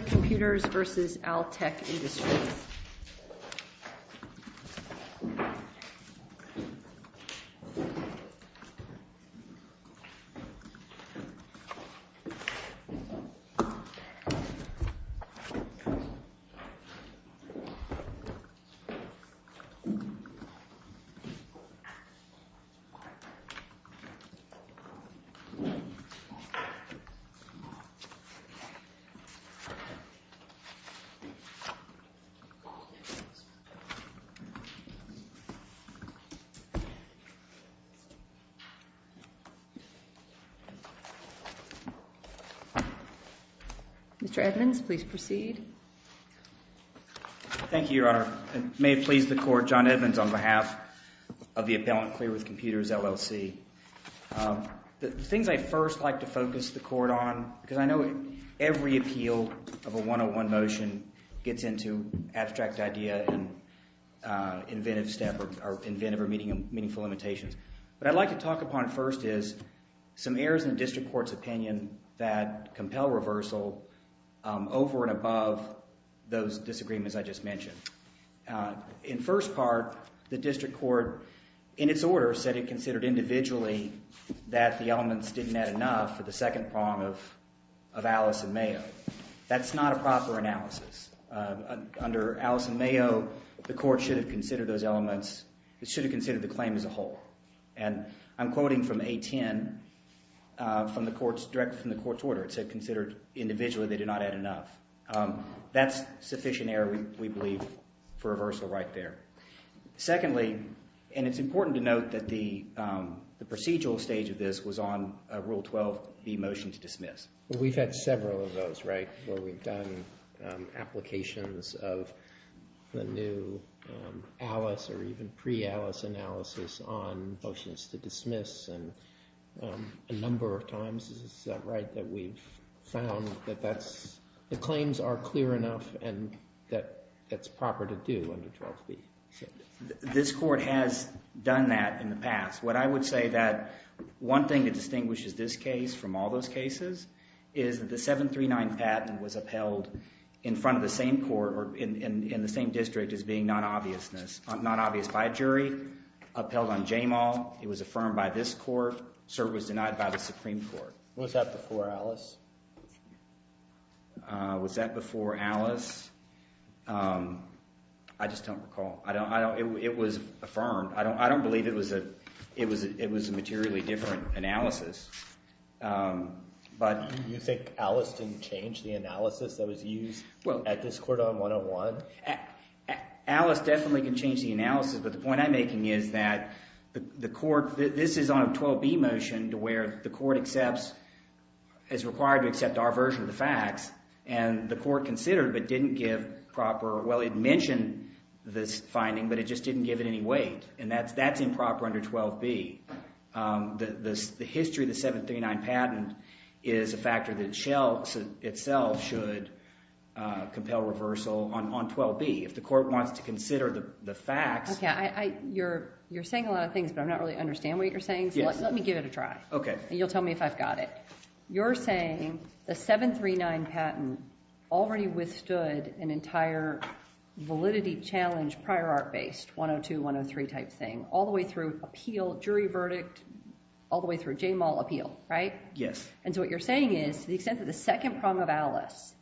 With Computers, LLC v. Altec Industries, Inc Mr. Edmonds, please proceed. Thank you, Your Honor. It may please the Court, John Edmonds, on behalf of the appellant Clear With Computers, LLC. The things I'd first like to focus the Court on, because I know every appeal of a 101 motion gets into abstract idea and inventive step or inventive or meaningful limitations. What I'd like to talk upon first is some errors in the District Court's opinion that compel reversal over and above those disagreements I just mentioned. In first part, the District Court, in its order, said it considered individually that the elements didn't add enough for the second prong of Alice and Mayo. That's not a proper analysis. Under Alice and Mayo, the Court should have considered those elements, should have considered the claim as a whole. And I'm quoting from A10 from the Court's order. It said, considered individually they did not add enough. That's sufficient error, we believe, for reversal right there. Secondly, and it's important to note that the procedural stage of this was on Rule 12B, Motion to Dismiss. We've had several of those, right, where we've done applications of the new Alice or even pre-Alice analysis on Motions to Dismiss. And a number of times, is that right, that we've found that that's, the claims are clear enough and that that's proper to do under 12B. This Court has done that in the past. What I would say that one thing that distinguishes this case from all those cases is that the 739 patent was upheld in front of the same court or in the same district as being not obvious by a jury. Upheld on Jamal. It was affirmed by this Court. Cert was denied by the Supreme Court. Was that before Alice? Was that before Alice? I just don't recall. It was affirmed. I don't believe it was a materially different analysis. Do you think Alice can change the analysis that was used at this court on 101? Alice definitely can change the analysis, but the point I'm making is that the court, this is on a 12B motion to where the court accepts, is required to accept our version of the facts, and the court considered but didn't give proper, well, it mentioned this finding, but it just didn't give it any weight. And that's improper under 12B. The history of the 739 patent is a factor that itself should compel reversal on 12B. If the court wants to consider the facts. You're saying a lot of things, but I don't really understand what you're saying, so let me give it a try. You'll tell me if I've got it. You're saying the 739 patent already withstood an entire validity challenge prior art based, 102, 103 type thing, all the way through appeal, jury verdict, all the way through Jamal appeal, right? Yes. And so what you're saying is to the extent that the second prong of Alice,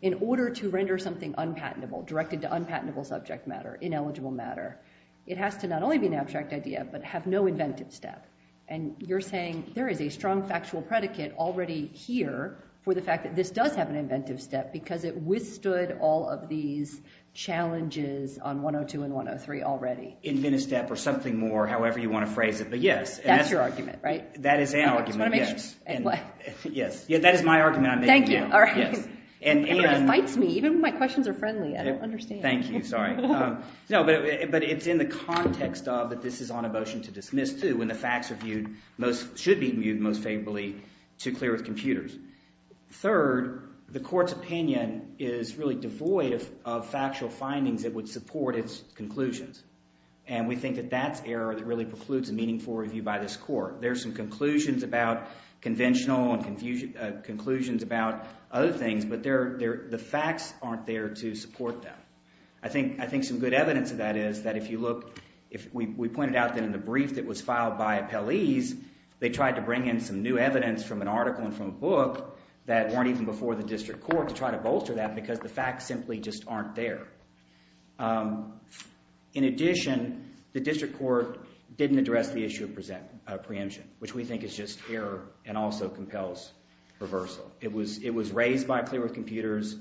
in order to render something unpatentable, directed to unpatentable subject matter, ineligible matter, it has to not only be an abstract idea, but have no inventive step. And you're saying there is a strong factual predicate already here for the fact that this does have an inventive step because it withstood all of these challenges on 102 and 103 already. Inventive step or something more, however you want to phrase it, but yes. That's your argument, right? That is our argument, yes. That is my argument. Thank you. Everybody fights me, even when my questions are friendly. I don't understand. Thank you. Sorry. No, but it's in the context of that this is on a motion to dismiss too when the facts should be viewed most favorably to clear with computers. Third, the court's opinion is really devoid of factual findings that would support its conclusions, and we think that that's error that really precludes a meaningful review by this court. There are some conclusions about conventional and conclusions about other things, but the facts aren't there to support them. I think some good evidence of that is that if you look, we pointed out that in the brief that was filed by appellees, they tried to bring in some new evidence from an article and from a book that weren't even before the district court to try to bolster that because the facts simply just aren't there. In addition, the district court didn't address the issue of preemption, which we think is just error and also compels reversal. It was raised by clear with computers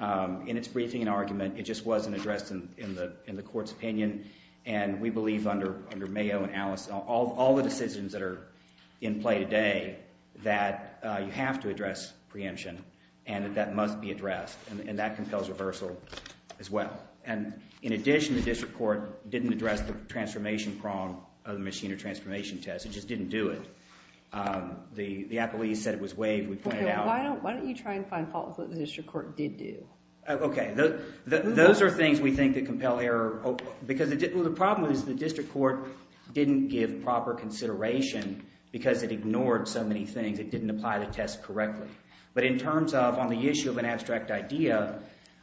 in its briefing and argument. It just wasn't addressed in the court's opinion, and we believe under Mayo and Alice, all the decisions that are in play today that you have to address preemption, and that must be addressed, and that compels reversal as well. In addition, the district court didn't address the transformation prong of the machine or transformation test. It just didn't do it. The appellees said it was waived. Why don't you try and find faults that the district court did do? Okay. Those are things we think that compel error. The problem is the district court didn't give proper consideration because it ignored so many things. It didn't apply the test correctly. But in terms of on the issue of an abstract idea,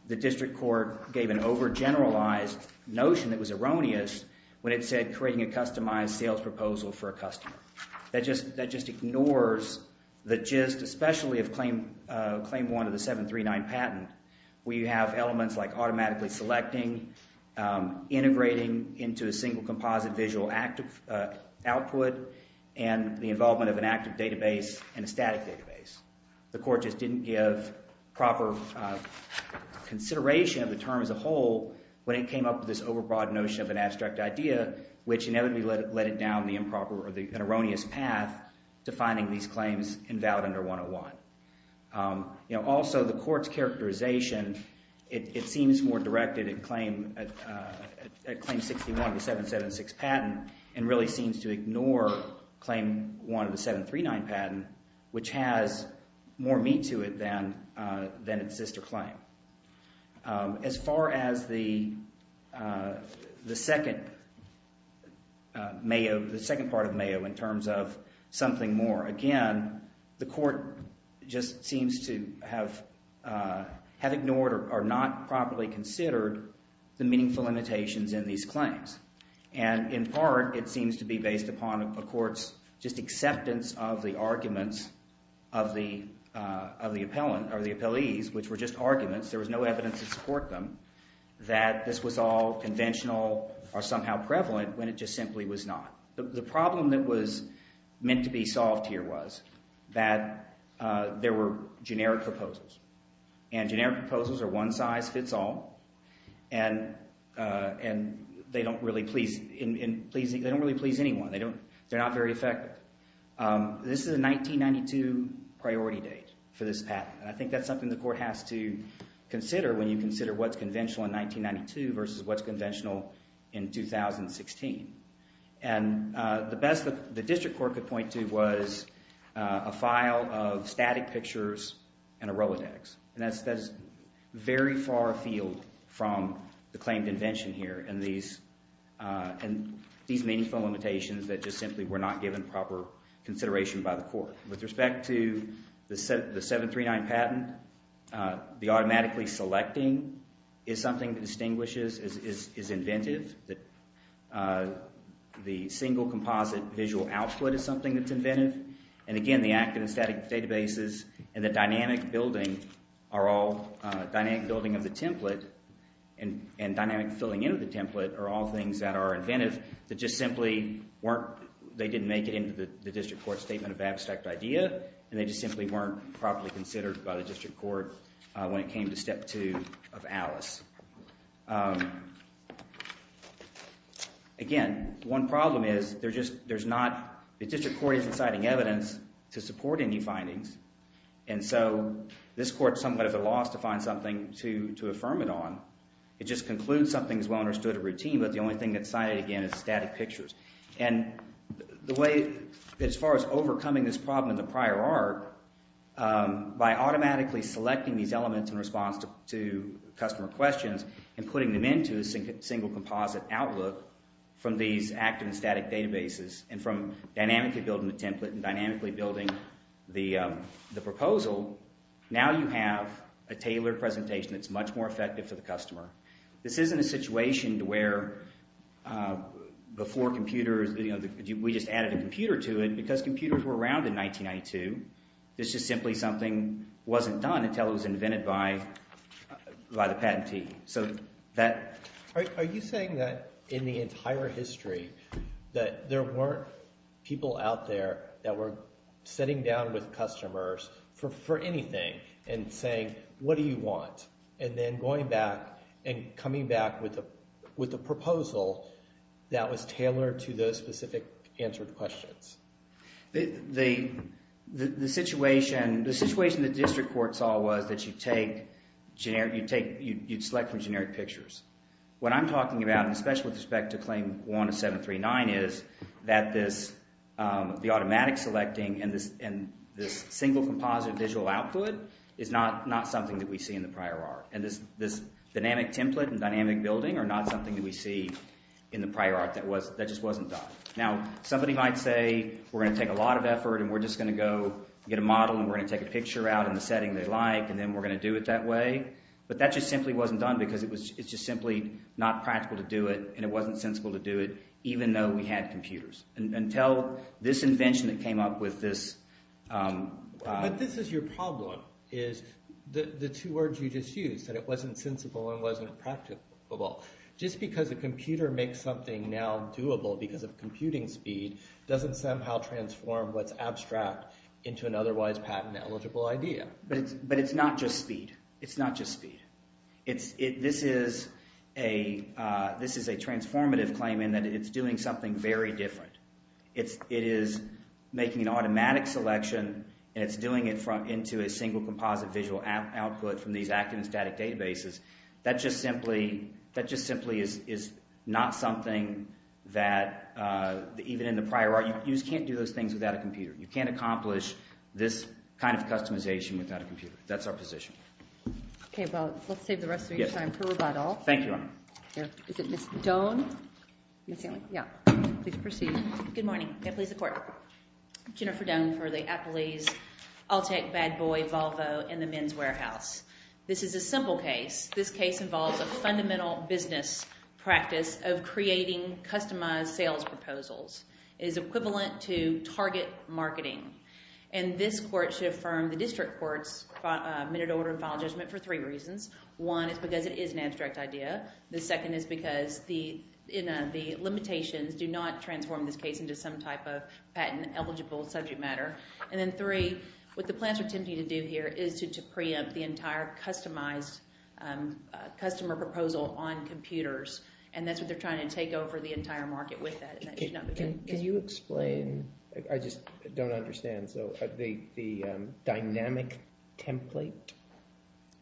the district court gave an overgeneralized notion that was erroneous when it said creating a customized sales proposal for a customer. That just ignores the gist especially of Claim 1 of the 739 patent where you have elements like automatically selecting, integrating into a single composite visual output, and the involvement of an active database and a static database. The court just didn't give proper consideration of the term as a whole when it came up with this overbroad notion of an abstract idea, which inevitably led it down the improper or erroneous path to finding these claims invalid under 101. Also, the court's characterization, it seems more directed at Claim 61 of the 776 patent and really seems to ignore Claim 1 of the 739 patent, which has more meat to it than its sister claim. As far as the second part of Mayo in terms of something more, again, the court just seems to have ignored or not properly considered the meaningful limitations in these claims. In part, it seems to be based upon a court's just acceptance of the arguments of the appellees, which were just arguments, there was no evidence to support them, that this was all conventional or somehow prevalent when it just simply was not. The problem that was meant to be solved here was that there were generic proposals. Generic proposals are one size fits all, and they don't really please anyone. They're not very effective. This is a 1992 priority date for this patent. I think that's something the court has to consider when you consider what's conventional in 1992 versus what's conventional in 2016. The best that the district court could point to was a file of static pictures and a Rolodex, and that's very far afield from the claimed invention here and these meaningful limitations that just simply were not given proper consideration by the court. With respect to the 739 patent, the automatically selecting is something that distinguishes, is inventive. The single composite visual output is something that's inventive, and again, the active and static databases and the dynamic building are all, dynamic building of the template and dynamic filling in of the template are all things that are inventive that just simply weren't, they didn't make it into the district court's statement of abstract idea, and they just simply weren't properly considered by the district court when it came to step two of Alice. Again, one problem is there's not, the district court isn't citing evidence to support any findings, and so this court's somewhat at a loss to find something to affirm it on. It just concludes something as well understood a routine, but the only thing that's cited again is static pictures. And the way, as far as overcoming this problem in the prior art, by automatically selecting these elements in response to customer questions and putting them into a single composite outlook from these active and static databases and from dynamically building the template and dynamically building the proposal, now you have a tailored presentation that's much more effective for the customer. This isn't a situation to where before computers, we just added a computer to it because computers were around in 1992. This is simply something wasn't done until it was invented by the patentee. So that— Are you saying that in the entire history that there weren't people out there that were sitting down with customers for anything and saying, what do you want, and then going back and coming back with a proposal that was tailored to those specific answered questions? The situation the district court saw was that you'd select from generic pictures. What I'm talking about, and especially with respect to Claim 1 of 739, is that the automatic selecting and this single composite visual output is not something that we see in the prior art. And this dynamic template and dynamic building are not something that we see in the prior art that just wasn't done. Now, somebody might say, we're going to take a lot of effort, and we're just going to go get a model, and we're going to take a picture out in the setting they like, and then we're going to do it that way. But that just simply wasn't done because it's just simply not practical to do it, and it wasn't sensible to do it even though we had computers. Until this invention that came up with this— But this is your problem, is the two words you just used, that it wasn't sensible and wasn't practicable. Just because a computer makes something now doable because of computing speed doesn't somehow transform what's abstract into an otherwise patent-eligible idea. But it's not just speed. It's not just speed. This is a transformative claim in that it's doing something very different. It is making an automatic selection, and it's doing it into a single composite visual output from these active and static databases. That just simply is not something that even in the prior—you just can't do those things without a computer. You can't accomplish this kind of customization without a computer. That's our position. Okay, well, let's save the rest of your time for rebuttal. Thank you, Your Honor. Is it Ms. Doan? Yes. Please proceed. Good morning. Appalooza Court. Jennifer Doan for the Appalooze Alltech, Bad Boy, Volvo, and the Men's Warehouse. This is a simple case. This case involves a fundamental business practice of creating customized sales proposals. It is equivalent to target marketing. And this court should affirm the district court's minute order of file judgment for three reasons. One is because it is an abstract idea. The second is because the limitations do not transform this case into some type of patent-eligible subject matter. And then three, what the plans are attempting to do here is to preempt the entire customized customer proposal on computers, and that's what they're trying to take over the entire market with that, and that should not be good. Can you explain—I just don't understand. So the dynamic template?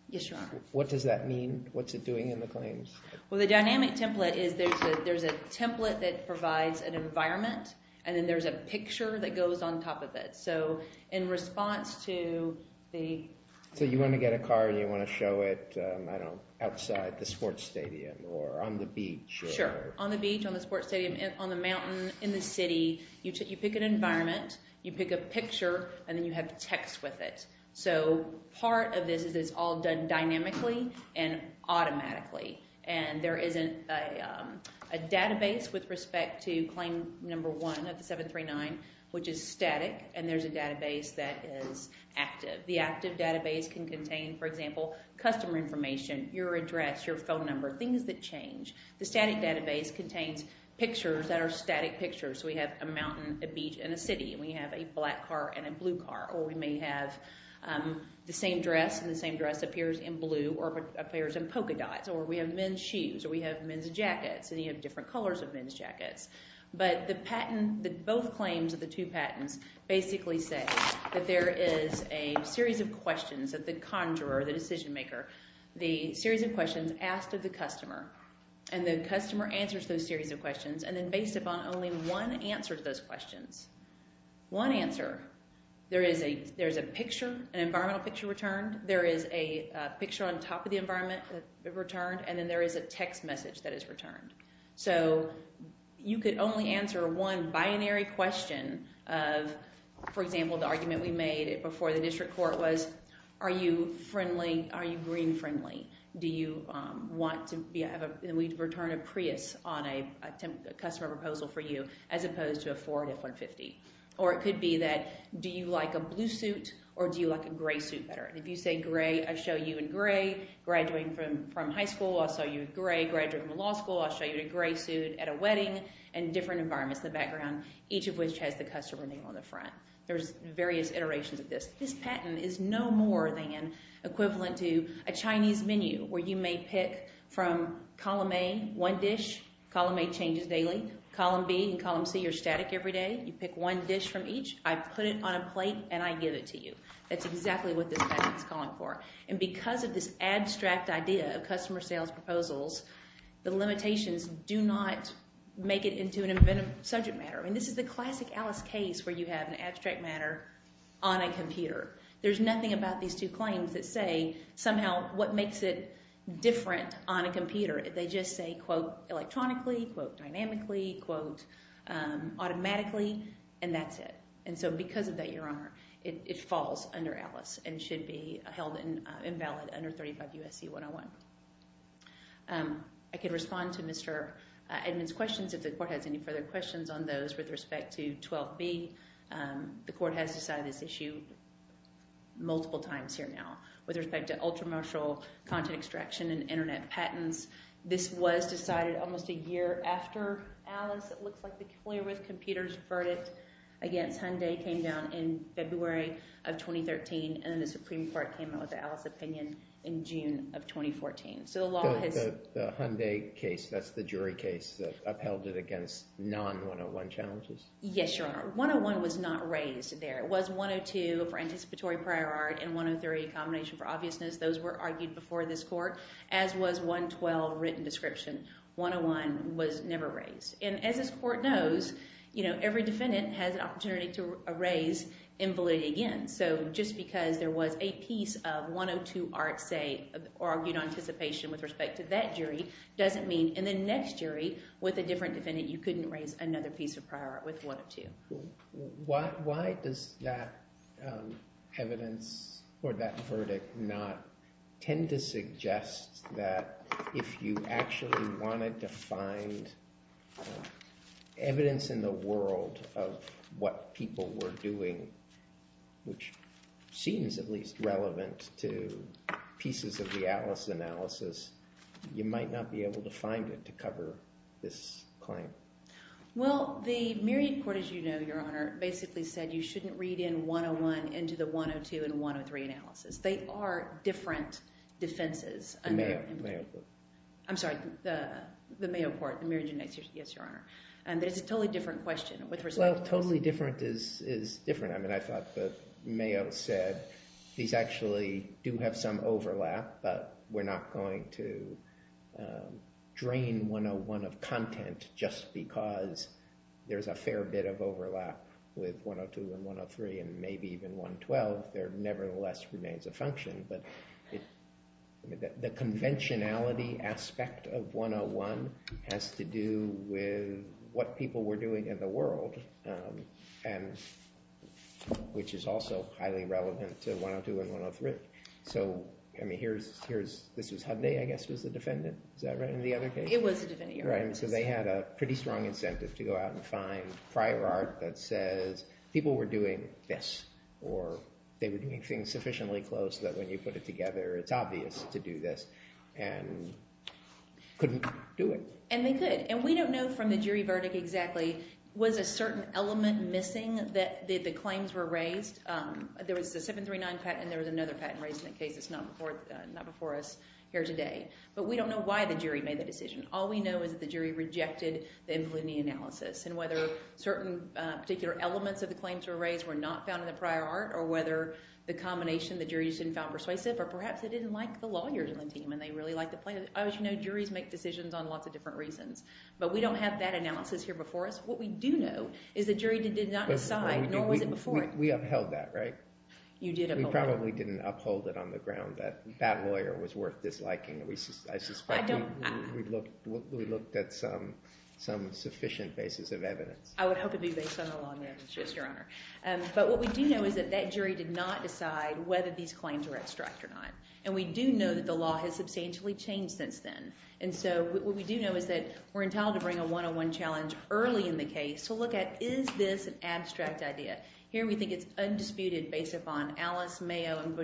Yes, Your Honor. What does that mean? What's it doing in the claims? Well, the dynamic template is there's a template that provides an environment, and then there's a picture that goes on top of it. So in response to the— So you want to get a car and you want to show it, I don't know, outside the sports stadium or on the beach? Sure, on the beach, on the sports stadium, on the mountain, in the city. You pick an environment, you pick a picture, and then you have text with it. So part of this is it's all done dynamically and automatically, and there isn't a database with respect to claim number one of the 739, which is static, and there's a database that is active. The active database can contain, for example, customer information, your address, your phone number, things that change. The static database contains pictures that are static pictures. So we have a mountain, a beach, and a city, and we have a black car and a blue car, or we may have the same dress, and the same dress appears in blue or appears in polka dots, or we have men's shoes, or we have men's jackets, and you have different colors of men's jackets. But the patent—both claims of the two patents basically say that there is a series of questions that the conjurer, the decision maker, the series of questions asked of the customer, and the customer answers those series of questions, and then based upon only one answer to those questions, one answer, there is a picture, an environmental picture returned. There is a picture on top of the environment returned, and then there is a text message that is returned. So you could only answer one binary question of, for example, the argument we made before the district court was, are you green-friendly? Do you want to return a Prius on a customer proposal for you, as opposed to a Ford F-150? Or it could be that, do you like a blue suit, or do you like a gray suit better? And if you say gray, I show you in gray. Graduating from high school, I'll show you in gray. Graduating from law school, I'll show you in a gray suit at a wedding, and different environments in the background, each of which has the customer name on the front. There's various iterations of this. This patent is no more than equivalent to a Chinese menu where you may pick from column A, one dish. Column A changes daily. Column B and column C are static every day. You pick one dish from each. I put it on a plate, and I give it to you. That's exactly what this patent is calling for. And because of this abstract idea of customer sales proposals, the limitations do not make it into an inventive subject matter. I mean, this is the classic Alice case where you have an abstract matter on a computer. There's nothing about these two claims that say somehow what makes it different on a computer. They just say, quote, electronically, quote, dynamically, quote, automatically, and that's it. And so because of that, Your Honor, it falls under Alice and should be held invalid under 35 U.S.C. 101. I could respond to Mr. Edmond's questions if the court has any further questions on those with respect to 12B. The court has decided this issue multiple times here now with respect to ultra-martial content extraction and Internet patents. This was decided almost a year after Alice. It looks like the Clear With Computers verdict against Hyundai came down in February of 2013, and then the Supreme Court came out with the Alice opinion in June of 2014. So the law has— The Hyundai case, that's the jury case, upheld it against non-101 challenges? Yes, Your Honor. 101 was not raised there. It was 102 for anticipatory prior art and 103, a combination for obviousness. Those were argued before this court, as was 112, written description. 101 was never raised. And as this court knows, you know, every defendant has an opportunity to raise invalidity again. So just because there was a piece of 102 art, say, argued on anticipation with respect to that jury, doesn't mean in the next jury with a different defendant you couldn't raise another piece of prior art with 102. Why does that evidence or that verdict not tend to suggest that if you actually wanted to find evidence in the world of what people were doing, which seems at least relevant to pieces of the Alice analysis, you might not be able to find it to cover this claim? Well, the Myriad Court, as you know, Your Honor, basically said you shouldn't read in 101 into the 102 and 103 analysis. They are different defenses. The Mayo Court. I'm sorry, the Mayo Court, the Myriad Judiciary. Yes, Your Honor. And it's a totally different question with respect to— Well, totally different is different. I mean, I thought that Mayo said these actually do have some overlap, but we're not going to drain 101 of content just because there's a fair bit of overlap with 102 and 103, and maybe even 112 there nevertheless remains a function. But the conventionality aspect of 101 has to do with what people were doing in the world, which is also highly relevant to 102 and 103. So, I mean, this was Hyundai, I guess, was the defendant. Is that right? It was the defendant, Your Honor. So they had a pretty strong incentive to go out and find prior art that says people were doing this or they were doing things sufficiently close that when you put it together it's obvious to do this and couldn't do it. And they could. And we don't know from the jury verdict exactly was a certain element missing that the claims were raised. There was a 739 patent and there was another patent raised in the case that's not before us here today. But we don't know why the jury made the decision. All we know is that the jury rejected the infallibility analysis and whether certain particular elements of the claims were raised were not found in the prior art or whether the combination the jury didn't find persuasive or perhaps they didn't like the lawyers on the team and they really liked the plaintiff. As you know, juries make decisions on lots of different reasons. But we don't have that analysis here before us. What we do know is the jury did not decide, nor was it before it. We upheld that, right? You did uphold it. We probably didn't uphold it on the ground that that lawyer was worth disliking. I suspect we looked at some sufficient basis of evidence. I would hope it would be based on the long evidence, yes, Your Honor. But what we do know is that that jury did not decide whether these claims were abstract or not. And we do know that the law has substantially changed since then. And so what we do know is that we're entitled to bring a one-on-one challenge early in the case to look at is this an abstract idea. Here we think it's undisputed based upon Alice Mayo and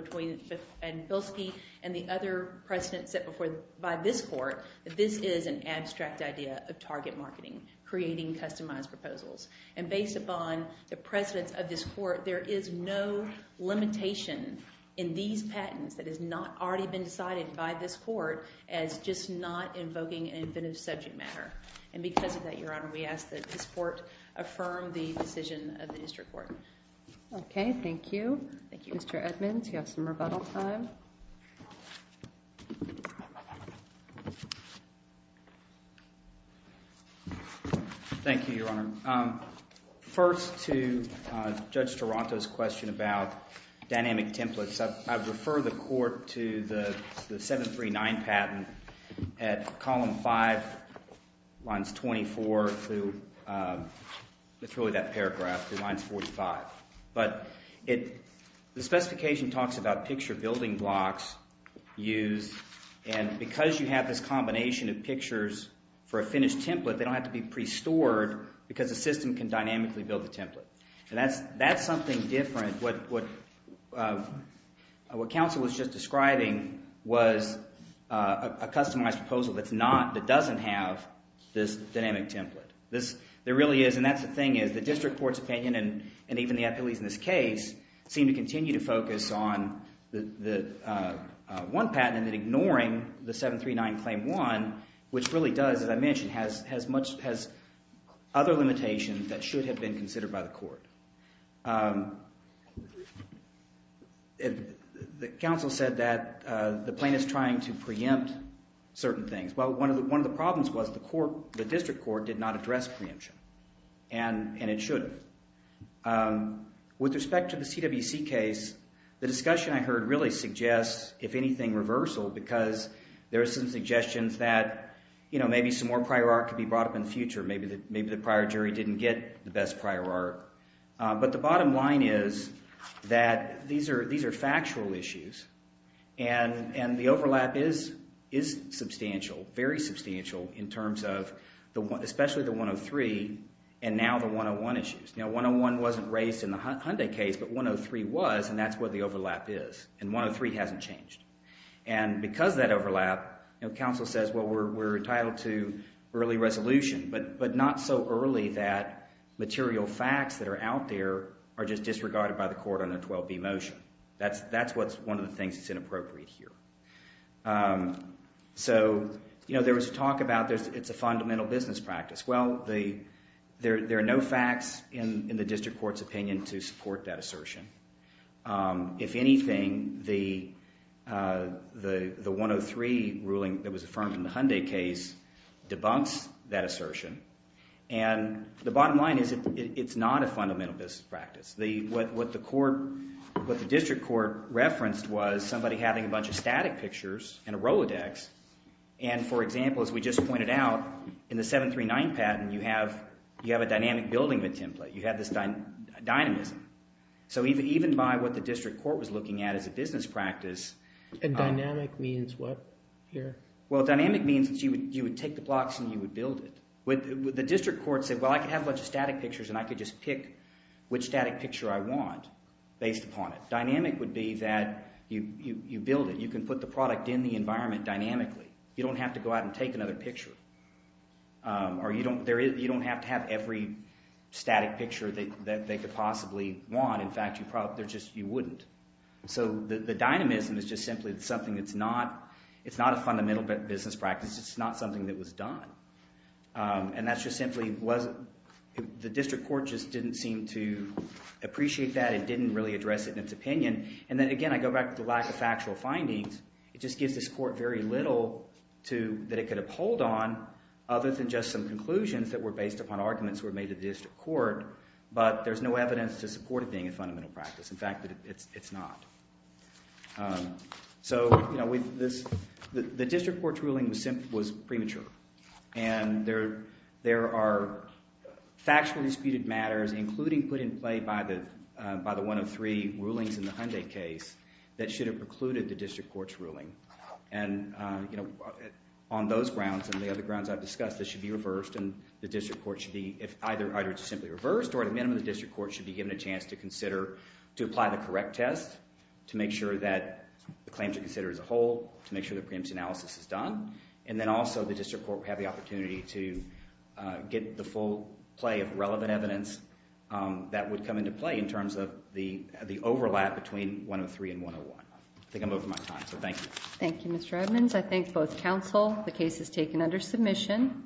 Bilski and the other precedents set before by this court that this is an abstract idea of target marketing, creating customized proposals. And based upon the precedents of this court, there is no limitation in these patents that has not already been decided by this court as just not invoking an inventive subject matter. And because of that, Your Honor, we ask that this court affirm the decision of the district court. OK. Thank you. Thank you, Mr. Edmonds. You have some rebuttal time. Thank you, Your Honor. First, to Judge Toronto's question about dynamic templates, I refer the court to the 739 patent at column 5, lines 24 through, it's really that paragraph, through lines 45. But the specification talks about picture building blocks used. And because you have this combination of pictures for a finished template, they don't have to be pre-stored because the system can dynamically build the template. And that's something different. What counsel was just describing was a customized proposal that doesn't have this dynamic template. There really is, and that's the thing, is the district court's opinion, and even the appeals in this case, seem to continue to focus on the one patent and then ignoring the 739 claim 1, which really does, as I mentioned, has other limitations that should have been considered by the court. The counsel said that the plaintiff's trying to preempt certain things. Well, one of the problems was the district court did not address preemption, and it shouldn't. With respect to the CWC case, the discussion I heard really suggests, if anything, reversal, because there are some suggestions that maybe some more prior art could be brought up in the future. Maybe the prior jury didn't get the best prior art. But the bottom line is that these are factual issues, and the overlap is substantial, very substantial in terms of especially the 103 and now the 101 issues. Now, 101 wasn't raised in the Hyundai case, but 103 was, and that's where the overlap is. And 103 hasn't changed. And because of that overlap, counsel says, well, we're entitled to early resolution, but not so early that material facts that are out there are just disregarded by the court on a 12B motion. That's one of the things that's inappropriate here. So there was talk about it's a fundamental business practice. Well, there are no facts in the district court's opinion to support that assertion. If anything, the 103 ruling that was affirmed in the Hyundai case debunks that assertion. And the bottom line is it's not a fundamental business practice. What the court, what the district court referenced was somebody having a bunch of static pictures in a Rolodex. And, for example, as we just pointed out, in the 739 patent, you have a dynamic building of a template. You have this dynamism. So even by what the district court was looking at as a business practice— And dynamic means what here? Well, dynamic means that you would take the blocks and you would build it. The district court said, well, I could have a bunch of static pictures and I could just pick which static picture I want based upon it. Dynamic would be that you build it. You can put the product in the environment dynamically. You don't have to go out and take another picture. Or you don't have to have every static picture that they could possibly want. In fact, you probably—they're just—you wouldn't. So the dynamism is just simply something that's not—it's not a fundamental business practice. It's not something that was done. And that's just simply wasn't—the district court just didn't seem to appreciate that. It didn't really address it in its opinion. And then, again, I go back to the lack of factual findings. It just gives this court very little to—that it could uphold on other than just some conclusions that were based upon arguments that were made to the district court. But there's no evidence to support it being a fundamental practice. In fact, it's not. So, you know, the district court's ruling was premature. And there are factually disputed matters, including put in play by the 103 rulings in the Hyundai case, that should have precluded the district court's ruling. And, you know, on those grounds and the other grounds I've discussed, this should be reversed. And the district court should be—either it's simply reversed or at the minimum the district court should be given a chance to consider—to apply the correct test to make sure that the claims are considered as a whole, to make sure the preemptive analysis is done. And then also the district court would have the opportunity to get the full play of relevant evidence that would come into play in terms of the overlap between 103 and 101. I think I'm over my time, so thank you. Thank you, Mr. Edmonds. I thank both counsel. The case is taken under submission.